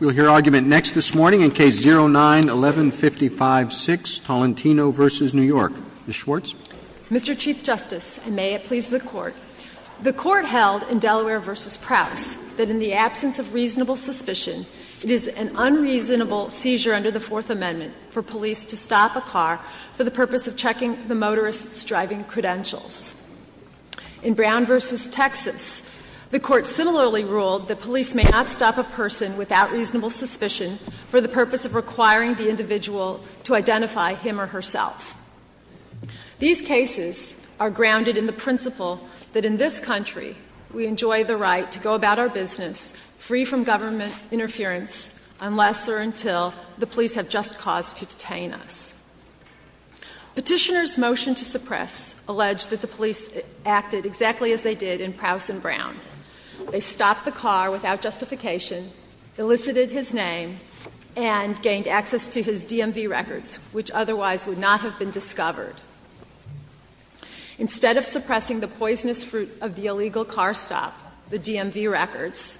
Mr. Chief Justice, and may it please the Court, the Court held in Delaware v. Prowse that in the absence of reasonable suspicion, it is an unreasonable seizure under the Fourth Amendment for police to stop a car for the purpose of checking the motorist's driving credentials. In Brown v. Texas, the Court similarly held that in the absence of reasonable suspicion, may not stop a person without reasonable suspicion for the purpose of requiring the individual to identify him or herself. These cases are grounded in the principle that in this country, we enjoy the right to go about our business free from government interference unless or until the police have just cause to detain us. Petitioner's motion to suppress alleged that the police acted exactly as they did in Prowse and Brown, they stopped the car without justification, elicited his name, and gained access to his DMV records, which otherwise would not have been discovered. Instead of suppressing the poisonous fruit of the illegal car stop, the DMV records,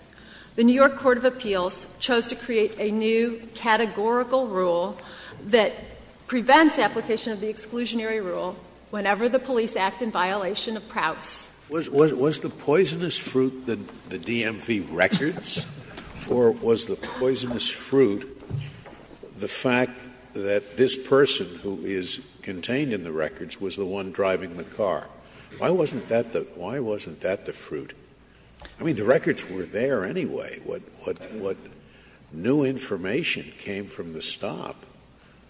the New York Court of Appeals chose to create a new categorical rule that prevents application of the exclusionary rule whenever the police act in violation of Prowse. Scalia. Was the poisonous fruit the DMV records, or was the poisonous fruit the fact that this person who is contained in the records was the one driving the car? Why wasn't that the fruit? I mean, the records were there anyway. What new information came from the stop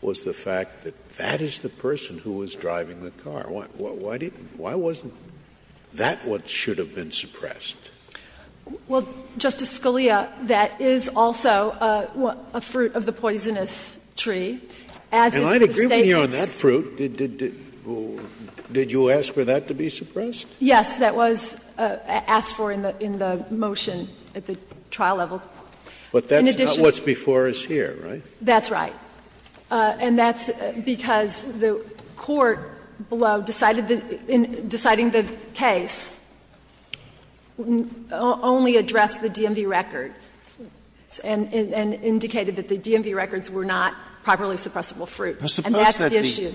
was the fact that that is the person who was driving the car. Why wasn't that what should have been suppressed? Well, Justice Scalia, that is also a fruit of the poisonous tree. And I'd agree with you on that fruit. Did you ask for that to be suppressed? Yes, that was asked for in the motion at the trial level. But that's not what's before us here, right? That's right. And that's because the court below decided that the case only addressed the DMV record and indicated that the DMV records were not properly suppressible fruit, and that's the issue.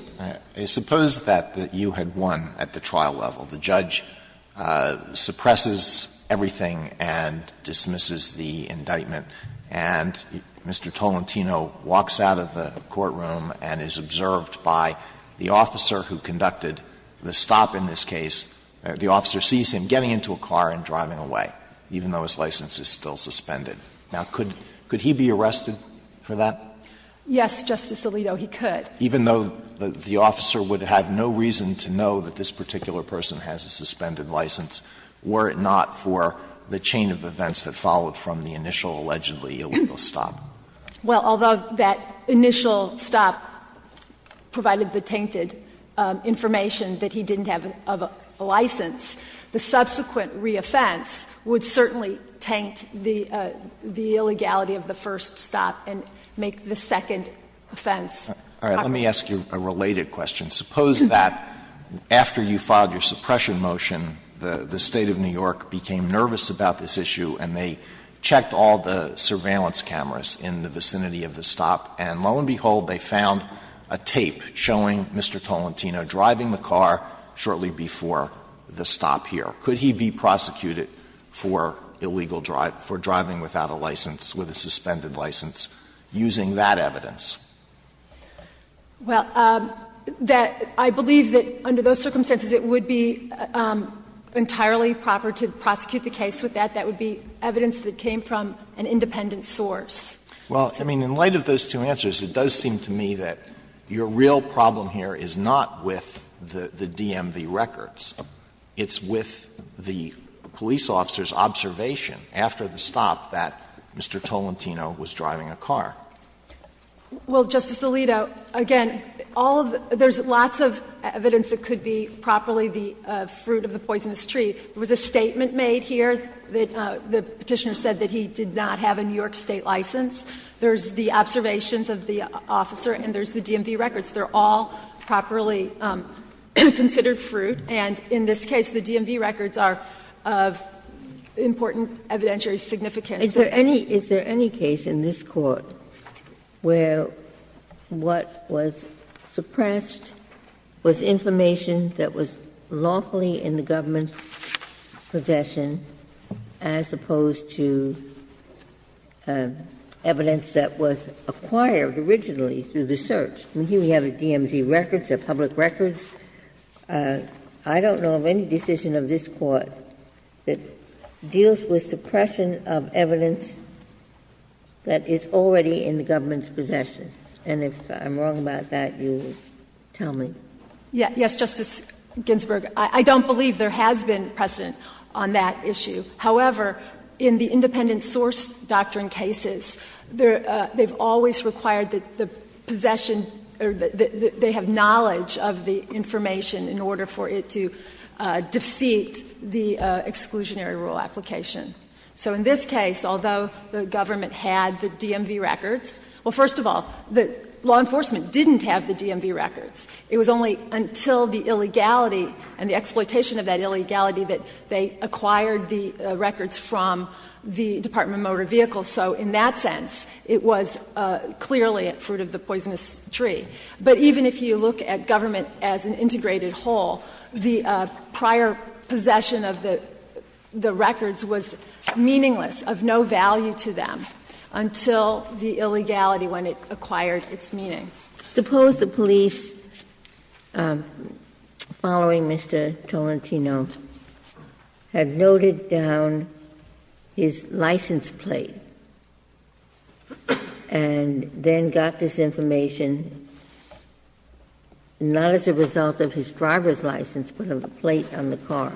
Suppose that you had won at the trial level. The judge suppresses everything and dismisses the indictment, and Mr. Tolentino walks out of the courtroom and is observed by the officer who conducted the stop in this case. The officer sees him getting into a car and driving away, even though his license is still suspended. Now, could he be arrested for that? Yes, Justice Alito, he could. Even though the officer would have no reason to know that this particular person has a suspended license, were it not for the chain of events that followed from the initial allegedly illegal stop. Well, although that initial stop provided the tainted information that he didn't have a license, the subsequent reoffense would certainly taint the illegality of the first stop and make the second offense. All right. Let me ask you a related question. Suppose that after you filed your suppression motion, the State of New York became nervous about this issue, and they checked all the surveillance cameras in the vicinity of the stop, and lo and behold, they found a tape showing Mr. Tolentino driving the car shortly before the stop here. Could he be prosecuted for illegal drive, for driving without a license, with a suspended license, using that evidence? Well, I believe that under those circumstances, it would be entirely proper to prosecute the case. With that, that would be evidence that came from an independent source. Well, I mean, in light of those two answers, it does seem to me that your real problem here is not with the DMV records. It's with the police officer's observation after the stop that Mr. Tolentino was driving a car. Well, Justice Alito, again, all of the — there's lots of evidence that could be properly the fruit of the poisonous tree. There was a statement made here that the Petitioner said that he did not have a New York State license. There's the observations of the officer, and there's the DMV records. They're all properly considered fruit, and in this case, the DMV records are of important evidentiary significance. Is there any — is there any case in this Court where what was suppressed was information that was lawfully in the government's possession as opposed to evidence that was acquired originally through the search? I mean, here we have the DMV records, they're public records. I don't know of any decision of this Court that deals with suppression of evidence that is already in the government's possession. And if I'm wrong about that, you tell me. Yes, Justice Ginsburg, I don't believe there has been precedent on that issue. However, in the independent source doctrine cases, they're — they've always required the possession or the — they have knowledge of the information in order for it to defeat the exclusionary rule application. So in this case, although the government had the DMV records — well, first of all, the law enforcement didn't have the DMV records. It was only until the illegality and the exploitation of that illegality that they acquired the records from the Department of Motor Vehicles. So in that sense, it was clearly at fruit of the poisonous tree. But even if you look at government as an integrated whole, the prior possession of the records was meaningless, of no value to them, until the illegality, when it acquired its meaning. Suppose the police, following Mr. Tolentino, had noted down his license plate and then got this information, not as a result of his driver's license, but of the plate on the car.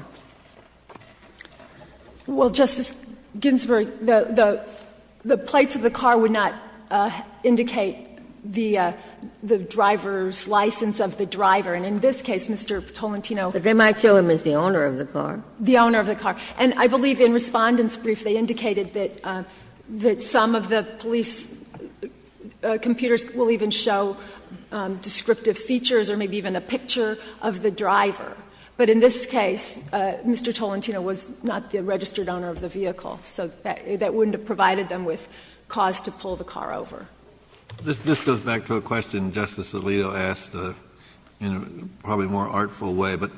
Well, Justice Ginsburg, the — the plates of the car would not indicate the driver's license of the driver. And in this case, Mr. Tolentino — But they might show him as the owner of the car. The owner of the car. And I believe in Respondent's brief, they indicated that some of the police computers will even show descriptive features or maybe even a picture of the driver. But in this case, Mr. Tolentino was not the registered owner of the vehicle. So that wouldn't have provided them with cause to pull the car over. This goes back to a question Justice Alito asked in a probably more artful way. But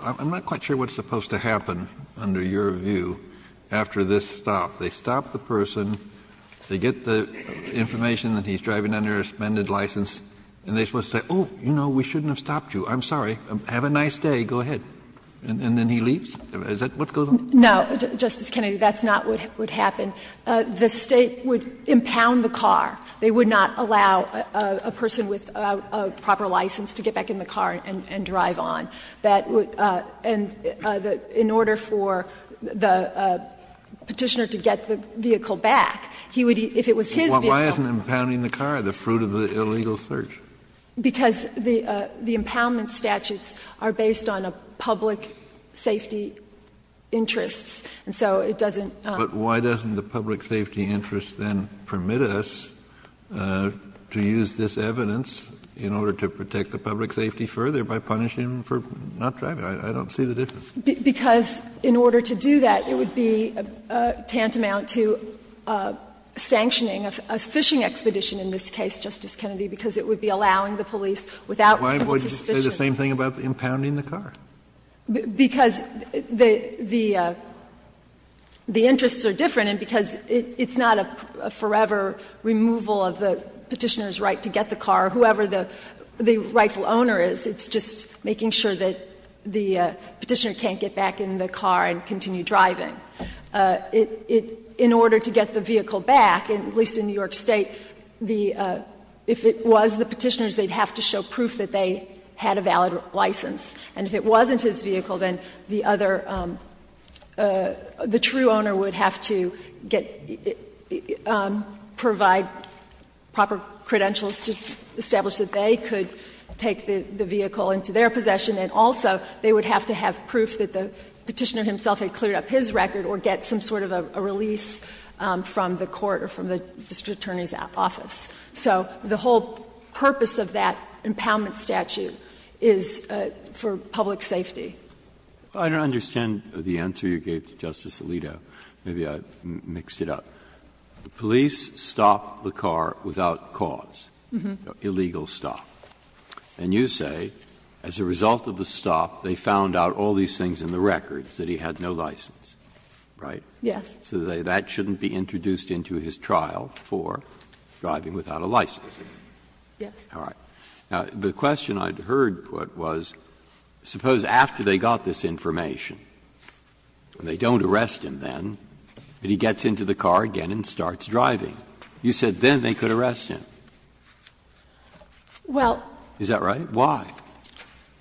I'm not quite sure what's supposed to happen, under your view, after this stop. They stop the person. They get the information that he's driving under a suspended license. And they're supposed to say, oh, you know, we shouldn't have stopped you. I'm sorry. Have a nice day. Go ahead. And then he leaves? Is that what goes on? No, Justice Kennedy. That's not what would happen. The State would impound the car. They would not allow a person with a proper license to get back in the car and drive on. That would — and in order for the Petitioner to get the vehicle back, he would — if it was his vehicle. Why isn't impounding the car the fruit of the illegal search? Because the impoundment statutes are based on a public safety interest. And so it doesn't — But why doesn't the public safety interest then permit us to use this evidence in order to protect the public safety further by punishing him for not driving? I don't see the difference. Because in order to do that, it would be tantamount to sanctioning a fishing expedition in this case, Justice Kennedy, because it would be allowing the police without possible suspicion. Why would you say the same thing about impounding the car? Because the interests are different and because it's not a forever removal of the Petitioner's right to get the car, whoever the rightful owner is. It's just making sure that the Petitioner can't get back in the car and continue driving. In order to get the vehicle back, at least in New York State, the — if it was the Petitioner's, they'd have to show proof that they had a valid license. And if it wasn't his vehicle, then the other — the true owner would have to get — provide proper credentials to establish that they could take the vehicle into their possession, and also they would have to have proof that the Petitioner himself had cleared up his record or get some sort of a release from the court or from the district attorney's office. So the whole purpose of that impoundment statute is for public safety. Breyer, I don't understand the answer you gave to Justice Alito. Maybe I mixed it up. The police stopped the car without cause, illegal stop. And you say, as a result of the stop, they found out all these things in the records that he had no license, right? Yes. So that shouldn't be introduced into his trial for driving without a license. Yes. All right. Now, the question I'd heard put was, suppose after they got this information, and they don't arrest him then, but he gets into the car again and starts driving. You said then they could arrest him. Well. Is that right? Why?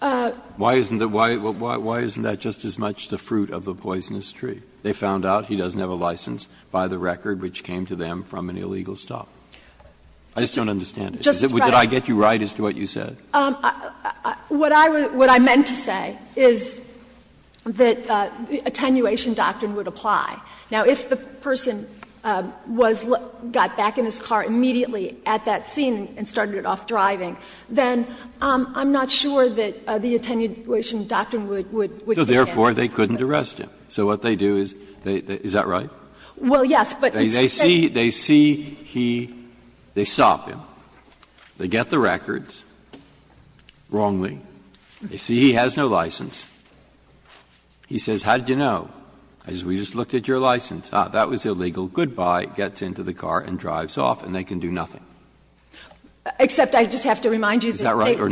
Why isn't that just as much the fruit of the poisonous tree? They found out he doesn't have a license by the record which came to them from an illegal stop. I just don't understand it. Did I get you right as to what you said? What I meant to say is that attenuation doctrine would apply. Now, if the person was got back in his car immediately at that scene and started off driving, then I'm not sure that the attenuation doctrine would be there. So therefore, they couldn't arrest him. So what they do is they – is that right? Well, yes, but it's the same thing. They see he – they stop him. They get the records wrongly. They see he has no license. He says, how did you know? I said, we just looked at your license. That was illegal. Goodbye, gets into the car and drives off, and they can do nothing. Except I just have to remind you that they could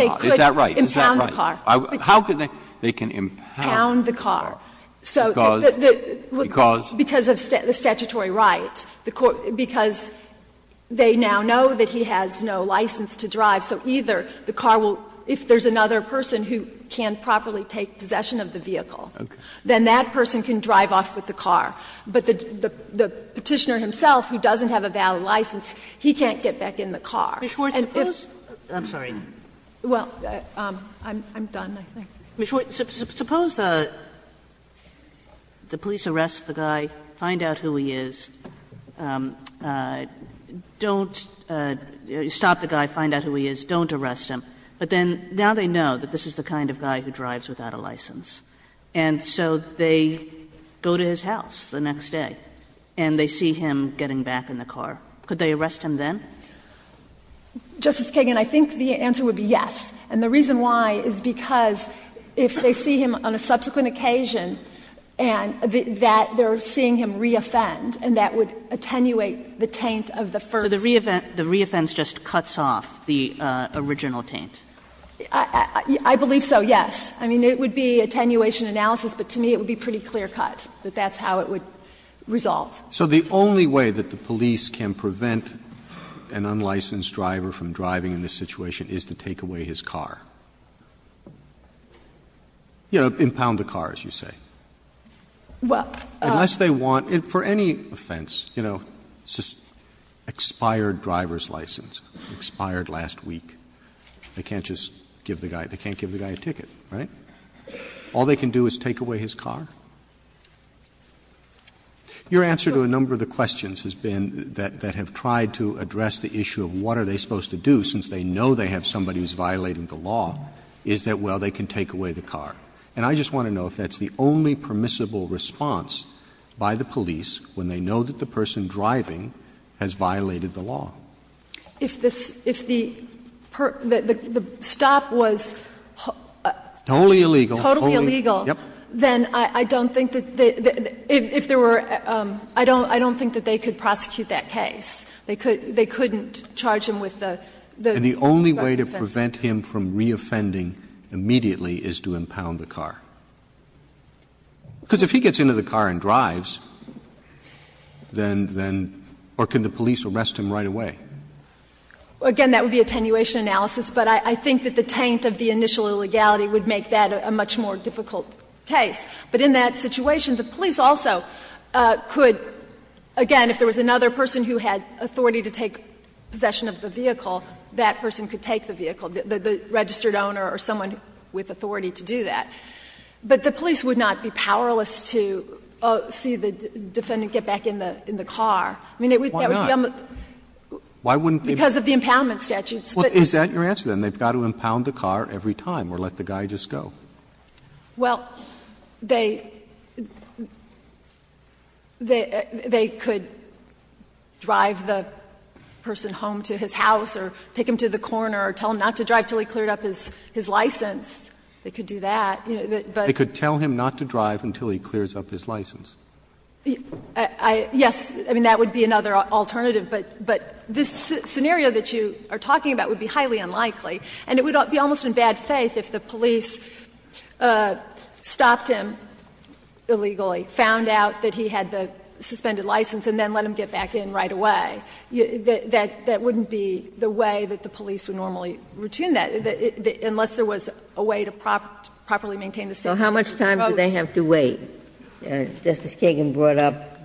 impound the car. How could they? They can impound the car. Because? Because of the statutory right. Because they now know that he has no license to drive. So either the car will – if there's another person who can't properly take possession of the vehicle, then that person can drive off with the car. But the Petitioner himself, who doesn't have a valid license, he can't get back in the car. And if the police arrest the guy, find out who he is, don't stop the guy, find out who he is, don't arrest him, but then now they know that this is the kind of guy who drives without a license. And so they go to his house the next day, and they see him getting back in the car. Could they arrest him then? Justice Kagan, I think the answer would be yes. And the reason why is because if they see him on a subsequent occasion, and that they're seeing him re-offend, and that would attenuate the taint of the first. So the re-offense just cuts off the original taint? I believe so, yes. I mean, it would be attenuation analysis, but to me it would be pretty clear-cut that that's how it would resolve. Roberts. Roberts. So the only way that the police can prevent an unlicensed driver from driving in this situation is to take away his car? You know, impound the car, as you say. Well, unless they want, for any offense, you know, it's just expired driver's license, expired last week. They can't just give the guy, they can't give the guy a ticket, right? All they can do is take away his car? Your answer to a number of the questions has been that have tried to address the issue of what are they supposed to do, since they know they have somebody who's violating the law, is that, well, they can take away the car. And I just want to know if that's the only permissible response by the police when they know that the person driving has violated the law. If the stop was- Totally illegal. Totally illegal. Yep. Then I don't think that they --if there were --I don't think that they could prosecute that case. They couldn't charge him with the- And the only way to prevent him from reoffending immediately is to impound the car? Because if he gets into the car and drives, then or can the police arrest him right away? Again, that would be attenuation analysis, but I think that the taint of the initial illegality would make that a much more difficult case. But in that situation, the police also could, again, if there was another person who had authority to take possession of the vehicle, that person could take the vehicle, the registered owner or someone with authority to do that. But the police would not be powerless to see the defendant get back in the car. I mean, that would be on the- Why not? Why wouldn't they- Because of the impoundment statutes. Is that your answer, then? They've got to impound the car every time or let the guy just go? Well, they could drive the person home to his house or take him to the corner or tell him not to drive until he cleared up his license. They could do that, but- They could tell him not to drive until he clears up his license. Yes, I mean, that would be another alternative. But this scenario that you are talking about would be highly unlikely, and it would be almost in bad faith if the police stopped him illegally, found out that he had the suspended license, and then let him get back in right away. That wouldn't be the way that the police would normally return that, unless there was a way to properly maintain the safety of the folks. Well, how much time do they have to wait? Justice Kagan brought up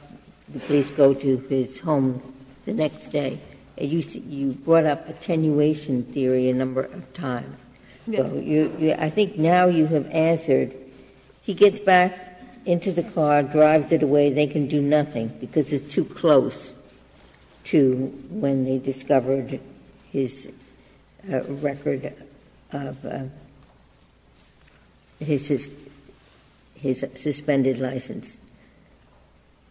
the police go to his home the next day. You brought up attenuation theory a number of times. I think now you have answered. He gets back into the car, drives it away. They can do nothing, because it's too close to when they discovered his record of his suspended license.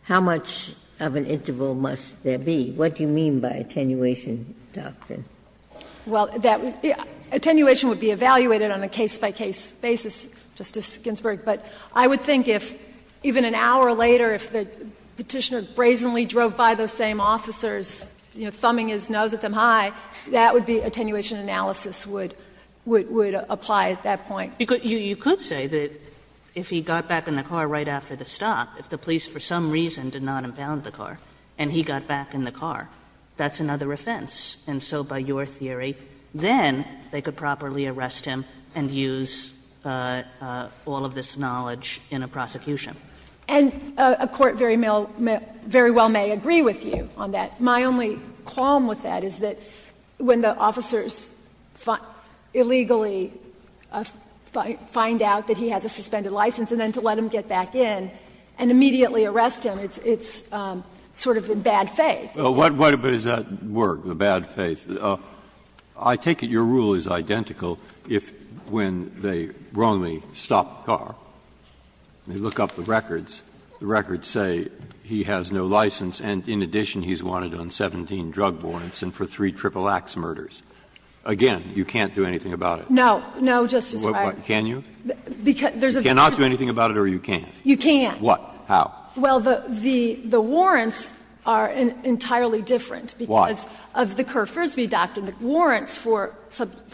How much of an interval must there be? What do you mean by attenuation doctrine? Well, attenuation would be evaluated on a case-by-case basis, Justice Ginsburg. But I would think if even an hour later, if the Petitioner brazenly drove by those same officers, you know, thumbing his nose at them high, that would be attenuation analysis would apply at that point. You could say that if he got back in the car right after the stop, if the police for some reason did not impound the car and he got back in the car, that's another offense. And so by your theory, then they could properly arrest him and use all of this knowledge in a prosecution. And a court very well may agree with you on that. My only qualm with that is that when the officers illegally find out that he has a suspended license and then to let him get back in and immediately arrest him, it's sort of in bad faith. But what does that word, the bad faith? I take it your rule is identical if, when they wrongly stop the car, they look up the records, the records say he has no license. And in addition, he's wanted on 17 drug warrants and for three triple-axe murders. Again, you can't do anything about it. No. No, Justice Breyer. Can you? You cannot do anything about it or you can? You can. What? How? Well, the warrants are entirely different. Why? Because of the Kerr-Frisbee doctrine, the warrants for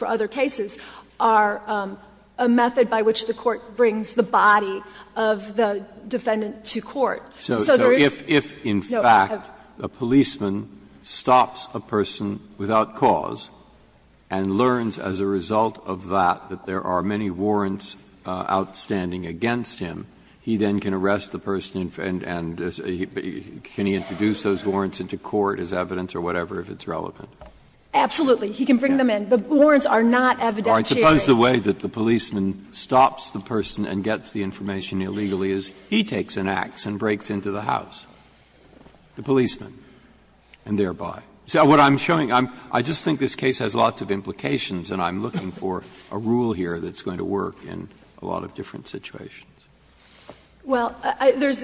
other cases are a method by which the court brings the body of the defendant to court. So if, in fact, a policeman stops a person without cause and learns as a result of that that there are many warrants outstanding against him, he then can arrest the person and can he introduce those warrants into court as evidence or whatever if it's relevant? Absolutely. He can bring them in. The warrants are not evidentiary. I suppose the way that the policeman stops the person and gets the information illegally is he takes an axe and breaks into the house, the policeman, and thereby. So what I'm showing, I just think this case has lots of implications and I'm looking for a rule here that's going to work in a lot of different situations. Well, there's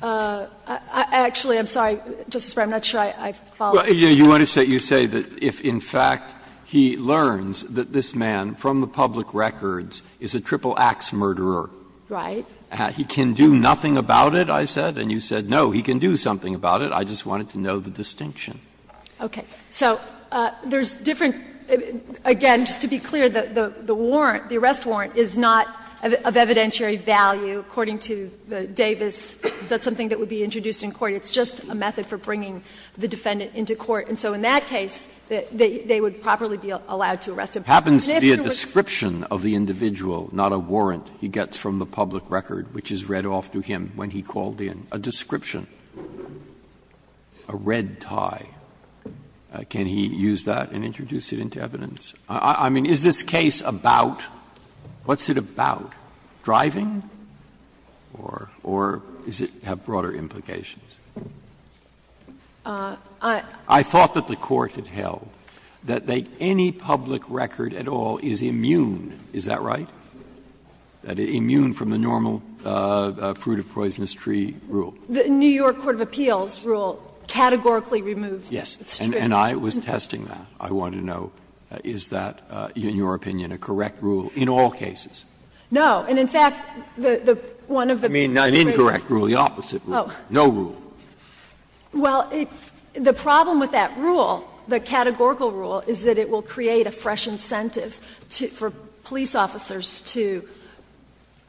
actually, I'm sorry, Justice Breyer, I'm not sure I followed. You want to say that if, in fact, he learns that this man from the public records is a triple-axe murderer. Right. He can do nothing about it, I said, and you said no, he can do something about it. I just wanted to know the distinction. Okay. So there's different, again, just to be clear, the warrant, the arrest warrant is not of evidentiary value according to the Davis. Is that something that would be introduced in court? It's just a method for bringing the defendant into court. And so in that case, they would properly be allowed to arrest him. It happens to be a description of the individual, not a warrant he gets from the public record, which is read off to him when he called in. A description, a red tie, can he use that and introduce it into evidence? I mean, is this case about, what's it about, driving, or does it have broader implications? I thought that the Court had held that any public record at all is immune, is that right? Immune from the normal fruit-of-poisonous-tree rule. The New York Court of Appeals rule categorically removed this. Yes, and I was testing that. I wanted to know, is that, in your opinion, a correct rule in all cases? No. And in fact, the one of the briefs. I mean, an incorrect rule, the opposite rule. No rule. Well, the problem with that rule, the categorical rule, is that it will create a fresh incentive for police officers to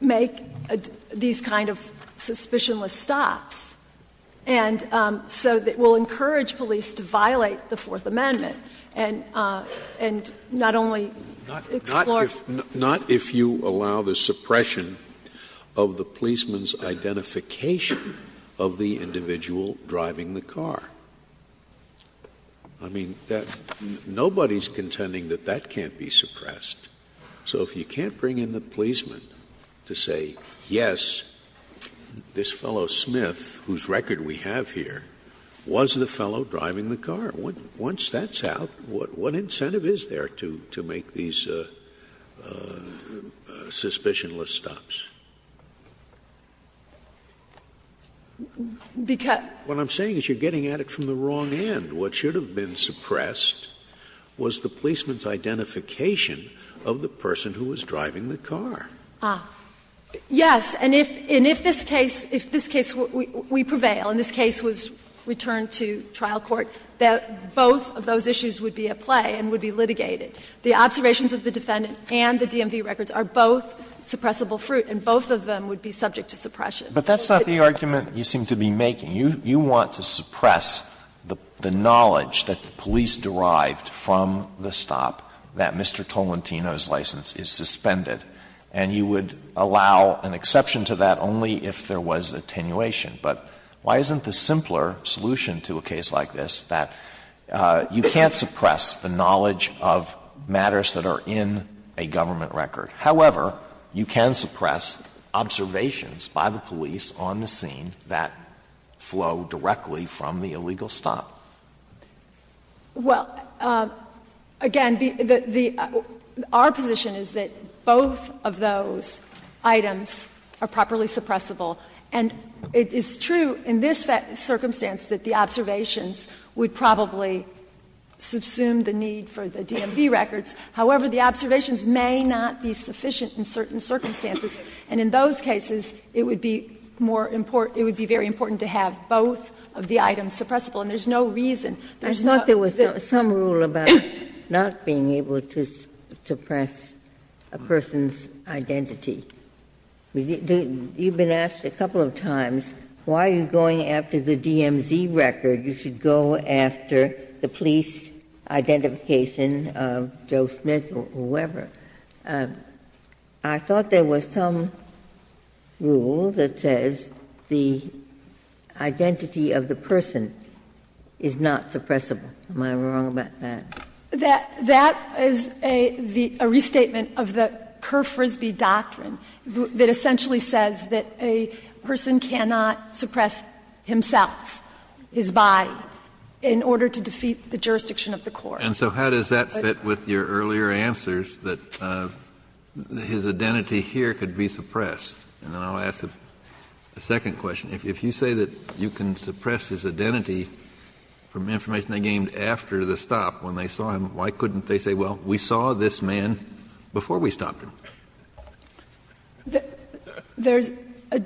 make these kind of suspicionless stops, and so it will encourage police to violate the Fourth Amendment and not only explore. Not if you allow the suppression of the policeman's identification of the individual driving the car. I mean, nobody is contending that that can't be suppressed. So if you can't bring in the policeman to say, yes, this fellow Smith, whose record we have here, was the fellow driving the car, once that's out, what incentive is there to make these suspicionless stops? What I'm saying is you're getting at it from the wrong end. What should have been suppressed was the policeman's identification of the person who was driving the car. Yes. And if this case, if this case we prevail, and this case was returned to trial court, that both of those issues would be at play and would be litigated. The observations of the defendant and the DMV records are both suppressible fruit, and both of them would be subject to suppression. Alito, but that's not the argument you seem to be making. You want to suppress the knowledge that the police derived from the stop that Mr. Tolentino's license is suspended, and you would allow an exception to that only if there was attenuation. But why isn't the simpler solution to a case like this that you can't suppress the knowledge of matters that are in a government record? However, you can suppress observations by the police on the scene that flow directly from the illegal stop. Well, again, the — our position is that both of those items are properly suppressible, and it is true in this circumstance that the observations would probably subsume the need for the DMV records. However, the observations may not be sufficient in certain circumstances, and in those cases it would be more important — it would be very important to have both of the items suppressible, and there's no reason. There's not the rule about not being able to suppress a person's identity. You've been asked a couple of times why you're going after the DMV record. You should go after the police identification of Joe Smith or whoever. I thought there was some rule that says the identity of the person is not suppressible. Am I wrong about that? That is a restatement of the Kerr-Frisbee doctrine, that essentially says that a person cannot suppress himself, his body, in order to defeat the jurisdiction of the court. Kennedy. And so how does that fit with your earlier answers that his identity here could be suppressed? And then I'll ask the second question. If you say that you can suppress his identity from information they gained after the stop, when they saw him, why couldn't they say, well, we saw this man before we stopped him? There's a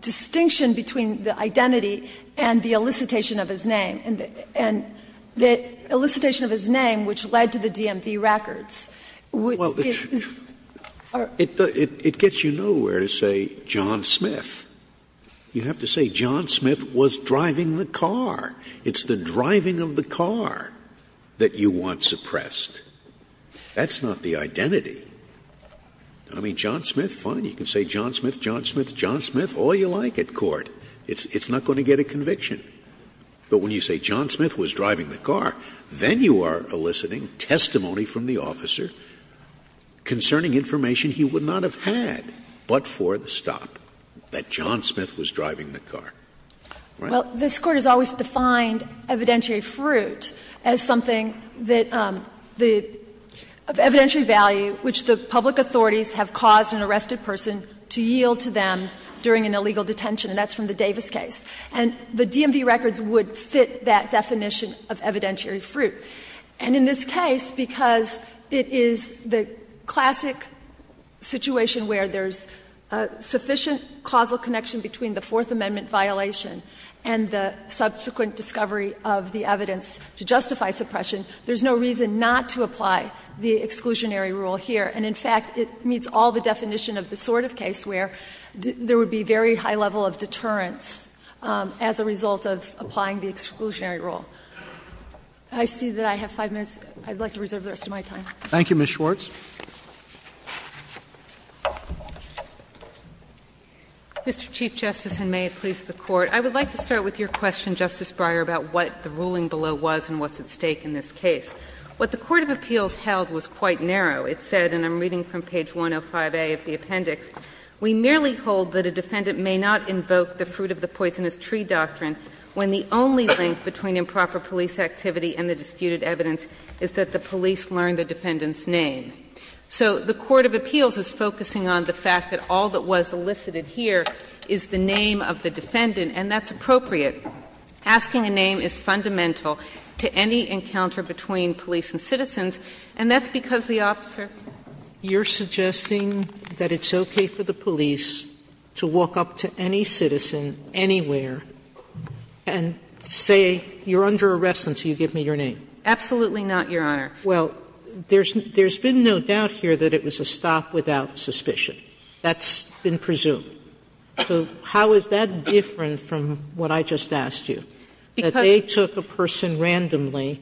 distinction between the identity and the elicitation of his name. And the elicitation of his name, which led to the DMV records, would give us a more specific answer. It gets you nowhere to say John Smith. You have to say John Smith was driving the car. It's the driving of the car. That you want suppressed. That's not the identity. I mean, John Smith, fine, you can say John Smith, John Smith, John Smith, all you like at court. It's not going to get a conviction. But when you say John Smith was driving the car, then you are eliciting testimony from the officer concerning information he would not have had but for the stop, that John Smith was driving the car. Right? So this Court has always defined evidentiary fruit as something that the — of evidentiary value, which the public authorities have caused an arrested person to yield to them during an illegal detention, and that's from the Davis case. And the DMV records would fit that definition of evidentiary fruit. And in this case, because it is the classic situation where there's a sufficient causal connection between the Fourth Amendment violation and the subsequent discovery of the evidence to justify suppression, there's no reason not to apply the exclusionary rule here. And in fact, it meets all the definition of the sort of case where there would be very high level of deterrence as a result of applying the exclusionary rule. I see that I have 5 minutes. I'd like to reserve the rest of my time. Roberts. Thank you, Ms. Schwartz. Mr. Chief Justice, and may it please the Court. I would like to start with your question, Justice Breyer, about what the ruling below was and what's at stake in this case. What the court of appeals held was quite narrow. It said, and I'm reading from page 105A of the appendix, We merely hold that a defendant may not invoke the fruit of the poisonous tree doctrine when the only link between improper police activity and the disputed evidence is that the police learn the defendant's name. So the court of appeals is focusing on the fact that all that was elicited here is the name of the defendant, and that's appropriate. Asking a name is fundamental to any encounter between police and citizens, and that's because the officer Sotomayor, you're suggesting that it's okay for the police to walk up to any citizen anywhere and say, you're under arrest until you give me your name? Absolutely not, Your Honor. Well, there's been no doubt here that it was a stop without suspicion. That's been presumed. So how is that different from what I just asked you? Because That they took a person randomly,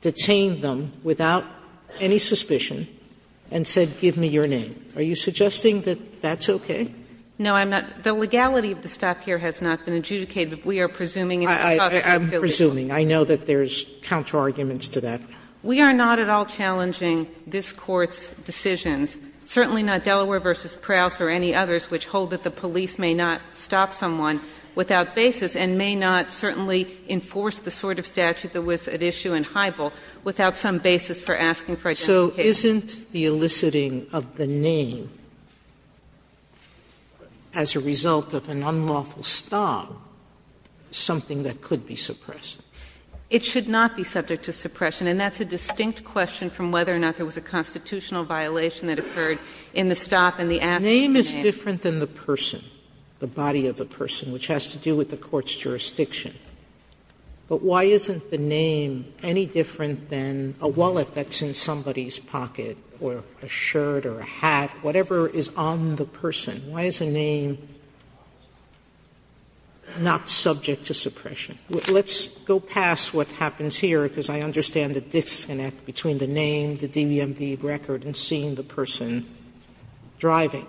detained them without any suspicion, and said, give me your name. Are you suggesting that that's okay? No, I'm not. The legality of the stop here has not been adjudicated. We are presuming it's a stop at utility. I'm presuming. I know that there's counterarguments to that. We are not at all challenging this Court's decisions, certainly not Delaware v. Prouse or any others which hold that the police may not stop someone without basis, and may not certainly enforce the sort of statute that was at issue in Hybel without some basis for asking for identification. So isn't the eliciting of the name as a result of an unlawful stop something that could be suppressed? It should not be subject to suppression, and that's a distinct question from whether or not there was a constitutional violation that occurred in the stop and the action of the name. Name is different than the person, the body of the person, which has to do with the Court's jurisdiction. But why isn't the name any different than a wallet that's in somebody's pocket or a shirt or a hat, whatever is on the person? Why is a name not subject to suppression? Let's go past what happens here, because I understand the disconnect between the name, the DMV record, and seeing the person driving.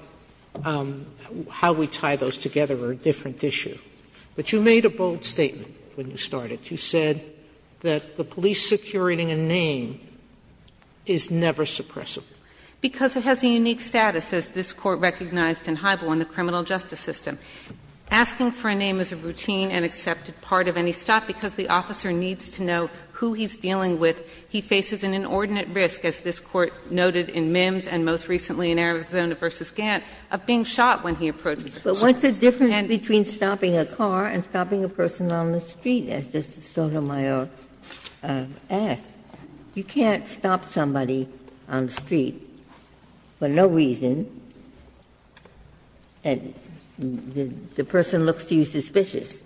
How we tie those together are a different issue. But you made a bold statement when you started. You said that the police securing a name is never suppressible. Because it has a unique status, as this Court recognized in Hybel in the criminal justice system. Asking for a name is a routine and accepted part of any stop because the officer needs to know who he's dealing with. He faces an inordinate risk, as this Court noted in Mims and most recently in Arizona v. Gantt, of being shot when he approaches a person. And the difference between stopping a car and stopping a person on the street, as Justice Sotomayor asked, you can't stop somebody on the street for no reason and the person looks to you suspicious.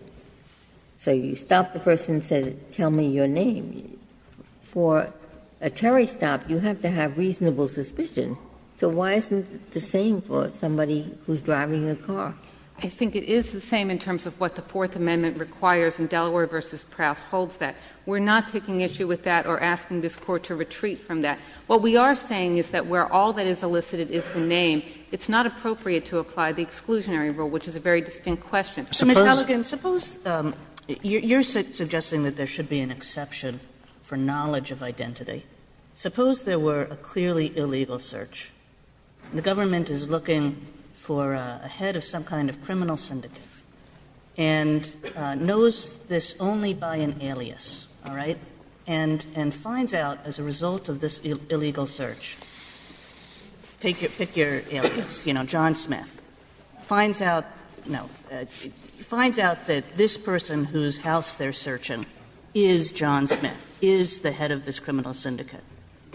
So you stop the person and say, tell me your name. For a Terry stop, you have to have reasonable suspicion. So why isn't it the same for somebody who's driving a car? I think it is the same in terms of what the Fourth Amendment requires, and Delaware v. Prowse holds that. We're not taking issue with that or asking this Court to retreat from that. What we are saying is that where all that is elicited is the name, it's not appropriate to apply the exclusionary rule, which is a very distinct question. Sotomayor, you're suggesting that there should be an exception for knowledge of identity. Suppose there were a clearly illegal search, and the government is looking for a head of some kind of criminal syndicate and knows this only by an alias, all right, and finds out as a result of this illegal search, pick your alias, you know, John Smith. Finds out, no, finds out that this person whose house they're searching is John Smith, is the head of this criminal syndicate.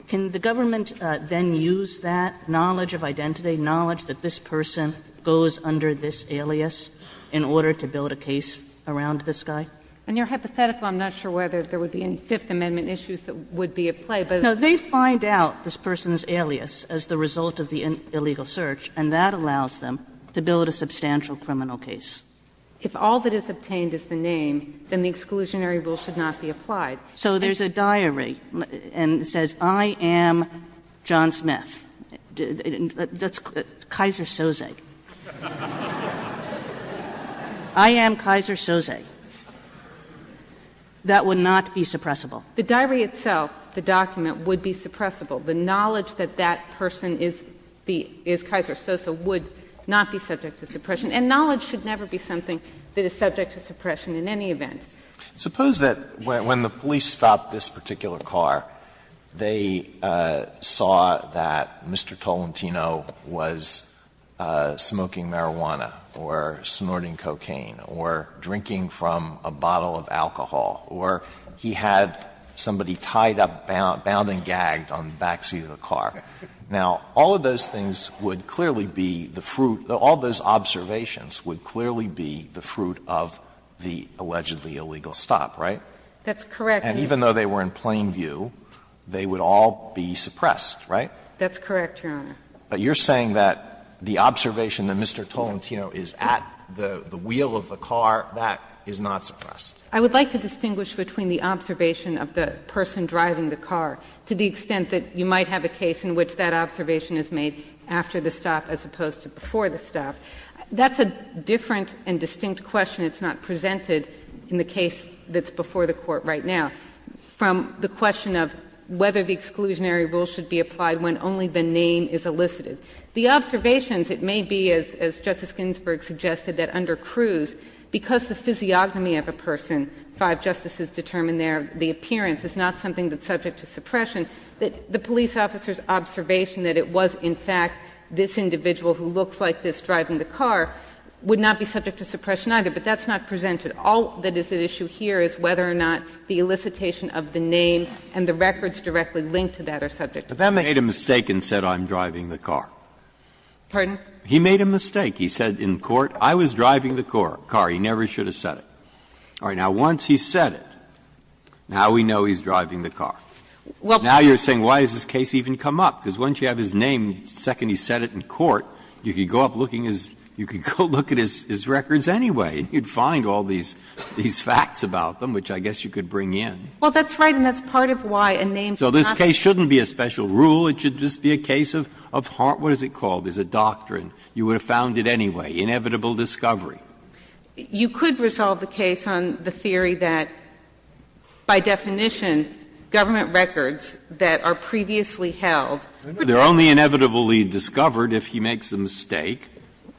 Can the government then use that knowledge of identity, knowledge that this person goes under this alias in order to build a case around this guy? And your hypothetical, I'm not sure whether there would be any Fifth Amendment issues that would be at play, but it's not. Kagan No, they find out this person's alias as the result of the illegal search, and that allows them to build a substantial criminal case. If all that is obtained is the name, then the exclusionary rule should not be applied. So there's a diary and it says, I am John Smith. That's Kaiser-Sose. I am Kaiser-Sose. That would not be suppressible. The diary itself, the document, would be suppressible. The knowledge that that person is Kaiser-Sose would not be subject to suppression. And knowledge should never be something that is subject to suppression in any event. Suppose that when the police stopped this particular car, they saw that Mr. Tolentino was smoking marijuana or snorting cocaine or drinking from a bottle of alcohol or he had somebody tied up, bound and gagged on the back seat of the car. Now, all of those things would clearly be the fruit of the all of those observations would clearly be the fruit of the allegedly illegal stop, right? That's correct, Your Honor. And even though they were in plain view, they would all be suppressed, right? That's correct, Your Honor. But you're saying that the observation that Mr. Tolentino is at the wheel of the car, that is not suppressed. I would like to distinguish between the observation of the person driving the car to the extent that you might have a case in which that observation is made after the stop as opposed to before the stop. That's a different and distinct question. It's not presented in the case that's before the Court right now. From the question of whether the exclusionary rule should be applied when only the name is elicited, the observations, it may be, as Justice Ginsburg suggested, that under Cruz, because the physiognomy of a person, five justices determine their the appearance, is not something that's subject to suppression, that the police officer's observation that it was in fact this individual who looks like this driving the car would not be subject to suppression either, but that's not presented. All that is at issue here is whether or not the elicitation of the name and the records directly linked to that are subject to suppression. Breyer. He made a mistake. He said in court, I was driving the car. He never should have said it. All right. Now, once he said it, now we know he's driving the car. Now you're saying why has this case even come up? Because once you have his name, the second he said it in court, you could go up looking at his records anyway and you'd find all these facts about them, which I guess you could bring in. Well, that's right, and that's part of why a name is not a special rule. So this case shouldn't be a special rule. It should just be a case of heart. What is it called? There's a doctrine. You would have found it anyway, inevitable discovery. You could resolve the case on the theory that, by definition, government records that are previously held. They're only inevitably discovered if he makes the mistake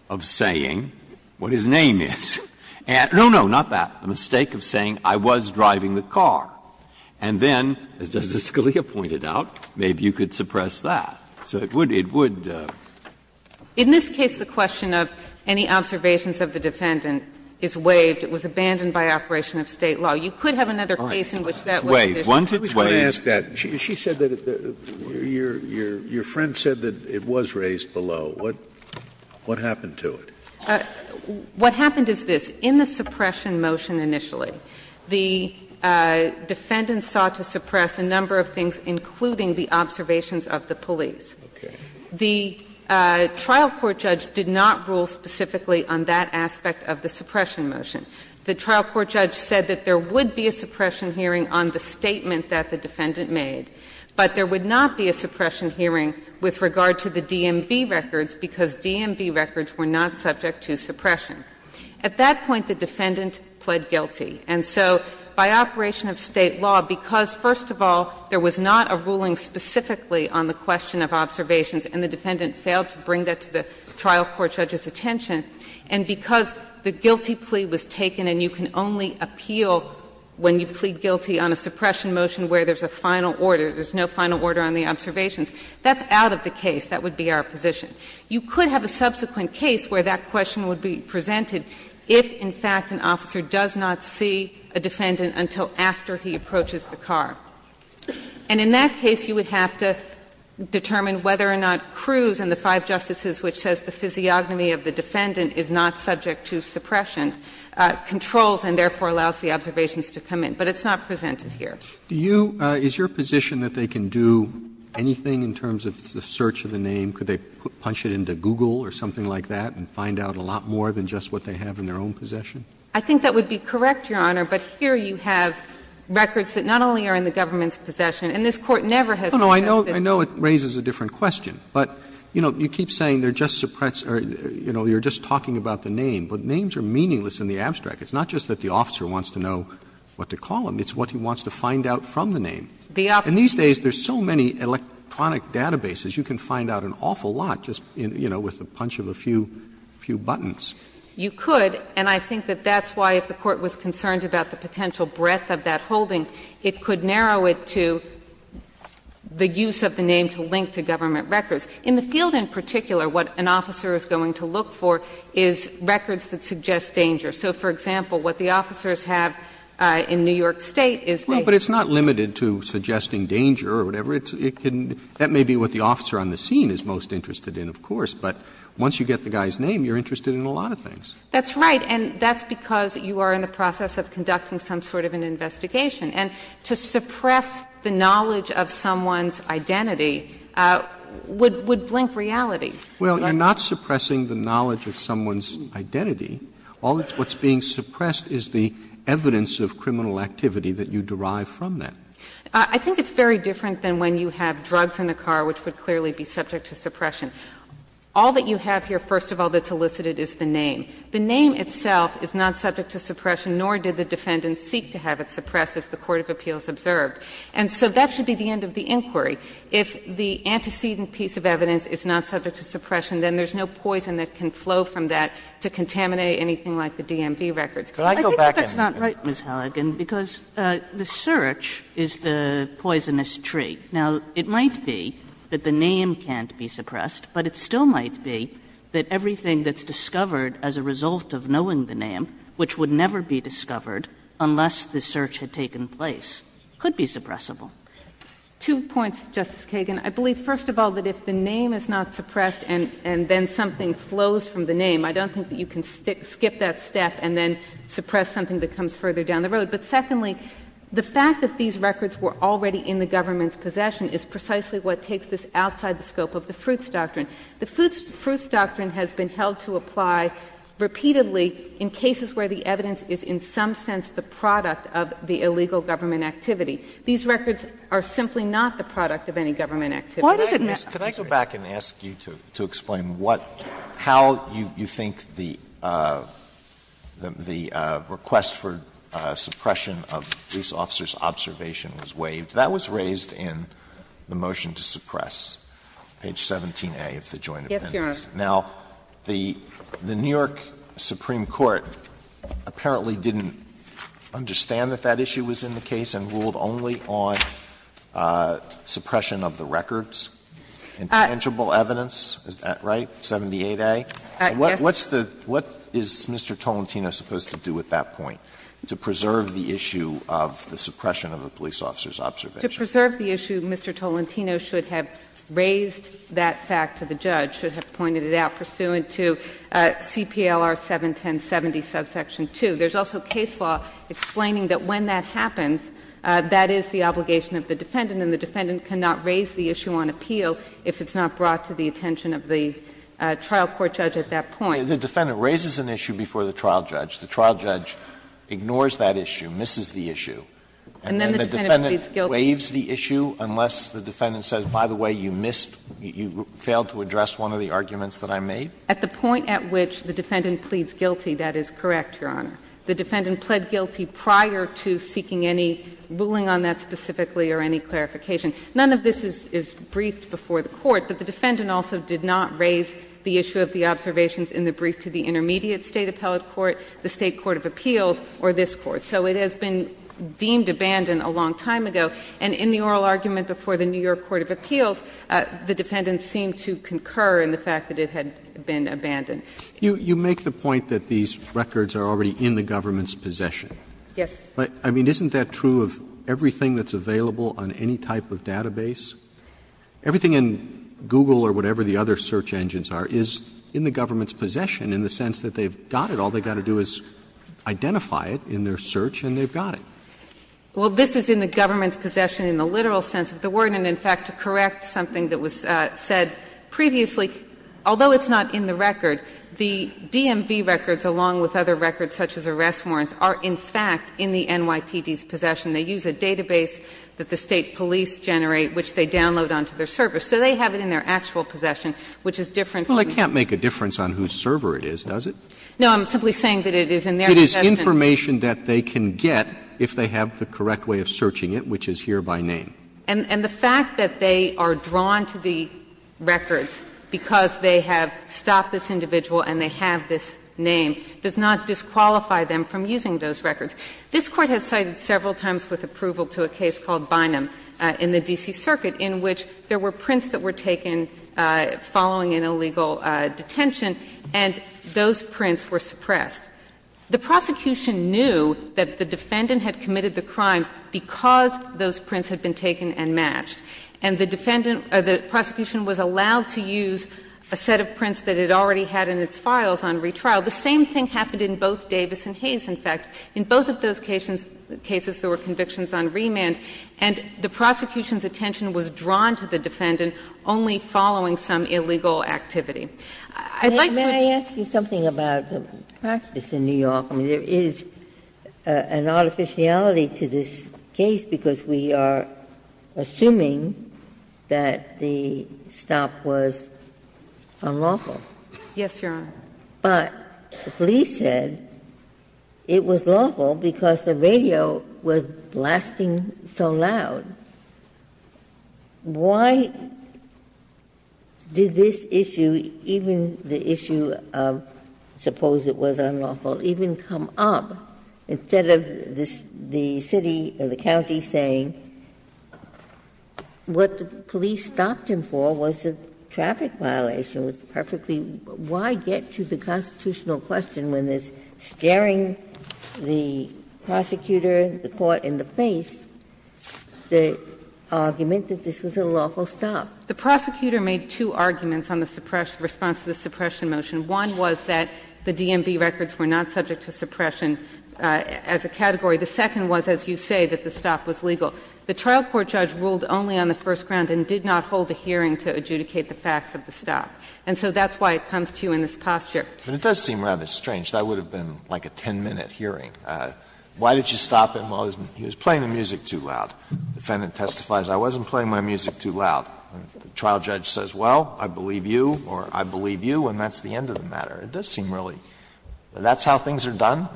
of saying what his name is. No, no, not that. The mistake of saying I was driving the car. And then, as Justice Scalia pointed out, maybe you could suppress that. So it would be, it would. In this case, the question of any observations of the defendant is waived. It was abandoned by operation of State law. You could have another case in which that was the issue. Once it's waived. Scalia, your friend said that it was raised below. What happened to it? What happened is this. In the suppression motion initially, the defendant sought to suppress a number of things, including the observations of the police. The trial court judge did not rule specifically on that aspect of the suppression motion. The trial court judge said that there would be a suppression hearing on the statement that the defendant made, but there would not be a suppression hearing with regard to the DMV records, because DMV records were not subject to suppression. At that point, the defendant pled guilty. And so by operation of State law, because, first of all, there was not a ruling specifically on the question of observations, and the defendant failed to bring that to the trial court judge's attention, and because the guilty plea was taken and you can only appeal when you plead guilty on a suppression motion where there's a final order, there's no final order on the observations, that's out of the case. That would be our position. You could have a subsequent case where that question would be presented if, in fact, an officer does not see a defendant until after he approaches the car. And in that case, you would have to determine whether or not Cruz and the five justices, which says the physiognomy of the defendant is not subject to suppression, controls and therefore allows the observations to come in. But it's not presented here. Roberts. Do you – is your position that they can do anything in terms of the search of the name? Could they punch it into Google or something like that and find out a lot more than just what they have in their own possession? I think that would be correct, Your Honor, but here you have records that not only are in the government's possession, and this Court never has suggested. No, no. I know it raises a different question, but, you know, you keep saying they're just suppressed or, you know, you're just talking about the name, but names are meaningless in the abstract. It's not just that the officer wants to know what to call him, it's what he wants to find out from the name. The officer. And these days, there's so many electronic databases, you can find out an awful lot just, you know, with the punch of a few buttons. You could, and I think that that's why if the Court was concerned about the potential breadth of that holding, it could narrow it to the use of the name to link to government records. In the field in particular, what an officer is going to look for is records that suggest danger. So, for example, what the officers have in New York State is they. Well, but it's not limited to suggesting danger or whatever. It can, that may be what the officer on the scene is most interested in, of course. But once you get the guy's name, you're interested in a lot of things. That's right. And that's because you are in the process of conducting some sort of an investigation. And to suppress the knowledge of someone's identity would blink reality. Well, you're not suppressing the knowledge of someone's identity. All that's being suppressed is the evidence of criminal activity that you derive from that. I think it's very different than when you have drugs in the car, which would clearly be subject to suppression. All that you have here, first of all, that's elicited is the name. The name itself is not subject to suppression, nor did the defendant seek to have it suppressed, as the court of appeals observed. And so that should be the end of the inquiry. If the antecedent piece of evidence is not subject to suppression, then there's no poison that can flow from that to contaminate anything like the DMV records. Could I go back and do that? I think that's not right, Ms. Halligan, because the search is the poisonous tree. Now, it might be that the name can't be suppressed, but it still might be that everything that's discovered as a result of knowing the name, which would never be discovered unless the search had taken place, could be suppressible. Two points, Justice Kagan. I believe, first of all, that if the name is not suppressed and then something flows from the name, I don't think that you can skip that step and then suppress something that comes further down the road. But secondly, the fact that these records were already in the government's possession is precisely what takes this outside the scope of the Fruits Doctrine. The Fruits Doctrine has been held to apply repeatedly in cases where the evidence is in some sense the product of the illegal government activity. These records are simply not the product of any government activity. Why does it matter? I'm sorry. Alito, could I go back and ask you to explain what, how you think the request for suppression of police officers' observation was waived? That was raised in the motion to suppress, page 17a of the Joint Appendix. Now, the New York Supreme Court apparently didn't understand that that issue was in the case and ruled only on suppression of the records and tangible evidence. Is that right, 78a? What's the — what is Mr. Tolentino supposed to do at that point to preserve the issue of the suppression of the police officers' observation? To preserve the issue, Mr. Tolentino should have raised that fact to the judge, should have pointed it out pursuant to CPLR 71070, subsection 2. There's also case law explaining that when that happens, that is the obligation of the defendant, and the defendant cannot raise the issue on appeal if it's not brought to the attention of the trial court judge at that point. The defendant raises an issue before the trial judge. The trial judge ignores that issue, misses the issue. And then the defendant waives the issue unless the defendant says, by the way, you missed, you failed to address one of the arguments that I made? At the point at which the defendant pleads guilty, that is correct, Your Honor. The defendant pled guilty prior to seeking any ruling on that specifically or any clarification. None of this is briefed before the Court, but the defendant also did not raise the issue of the observations in the brief to the intermediate State appellate court, the State court of appeals, or this Court. So it has been deemed abandoned a long time ago, and in the oral argument before the New York court of appeals, the defendant seemed to concur in the fact that it had been abandoned. Roberts You make the point that these records are already in the government's possession. Yes. But, I mean, isn't that true of everything that's available on any type of database? Everything in Google or whatever the other search engines are is in the government's possession in the sense that they've got it. All they've got to do is identify it in their search, and they've got it. Well, this is in the government's possession in the literal sense of the word. And, in fact, to correct something that was said previously, although it's not in the record, the DMV records, along with other records such as arrest warrants, are, in fact, in the NYPD's possession. They use a database that the State police generate, which they download onto their servers. So they have it in their actual possession, which is different from the other. Roberts Well, it can't make a difference on whose server it is, does it? No, I'm simply saying that it is in their possession. Roberts It is information that they can get if they have the correct way of searching it, which is here by name. And the fact that they are drawn to the records because they have stopped this investigation and they have this name does not disqualify them from using those records. This Court has cited several times with approval to a case called Bynum in the D.C. Circuit, in which there were prints that were taken following an illegal detention, and those prints were suppressed. The prosecution knew that the defendant had committed the crime because those prints had been taken and matched, and the defendant or the prosecution was allowed to use a set of prints that it already had in its files on retrial. The same thing happened in both Davis and Hayes, in fact. In both of those cases, there were convictions on remand, and the prosecution's attention was drawn to the defendant only following some illegal activity. I'd like to ask you something about the practice in New York. I mean, there is an artificiality to this case because we are assuming that the stop was unlawful. Yes, Your Honor. But the police said it was lawful because the radio was blasting so loud. Why did this issue, even the issue of suppose it was unlawful, even come up instead of the city or the county saying what the police stopped him for was a traffic violation, was perfectly why get to the constitutional question when there's staring the prosecutor, the court in the face, the argument that this was a lawful stop? The prosecutor made two arguments on the suppression, response to the suppression motion. One was that the DMV records were not subject to suppression as a category. The second was, as you say, that the stop was legal. The trial court judge ruled only on the first ground and did not hold a hearing to adjudicate the facts of the stop. And so that's why it comes to you in this posture. But it does seem rather strange. That would have been like a 10-minute hearing. Why did you stop him while he was playing the music too loud? The defendant testifies, I wasn't playing my music too loud. The trial judge says, well, I believe you, or I believe you, and that's the end of the matter. It does seem really that's how things are done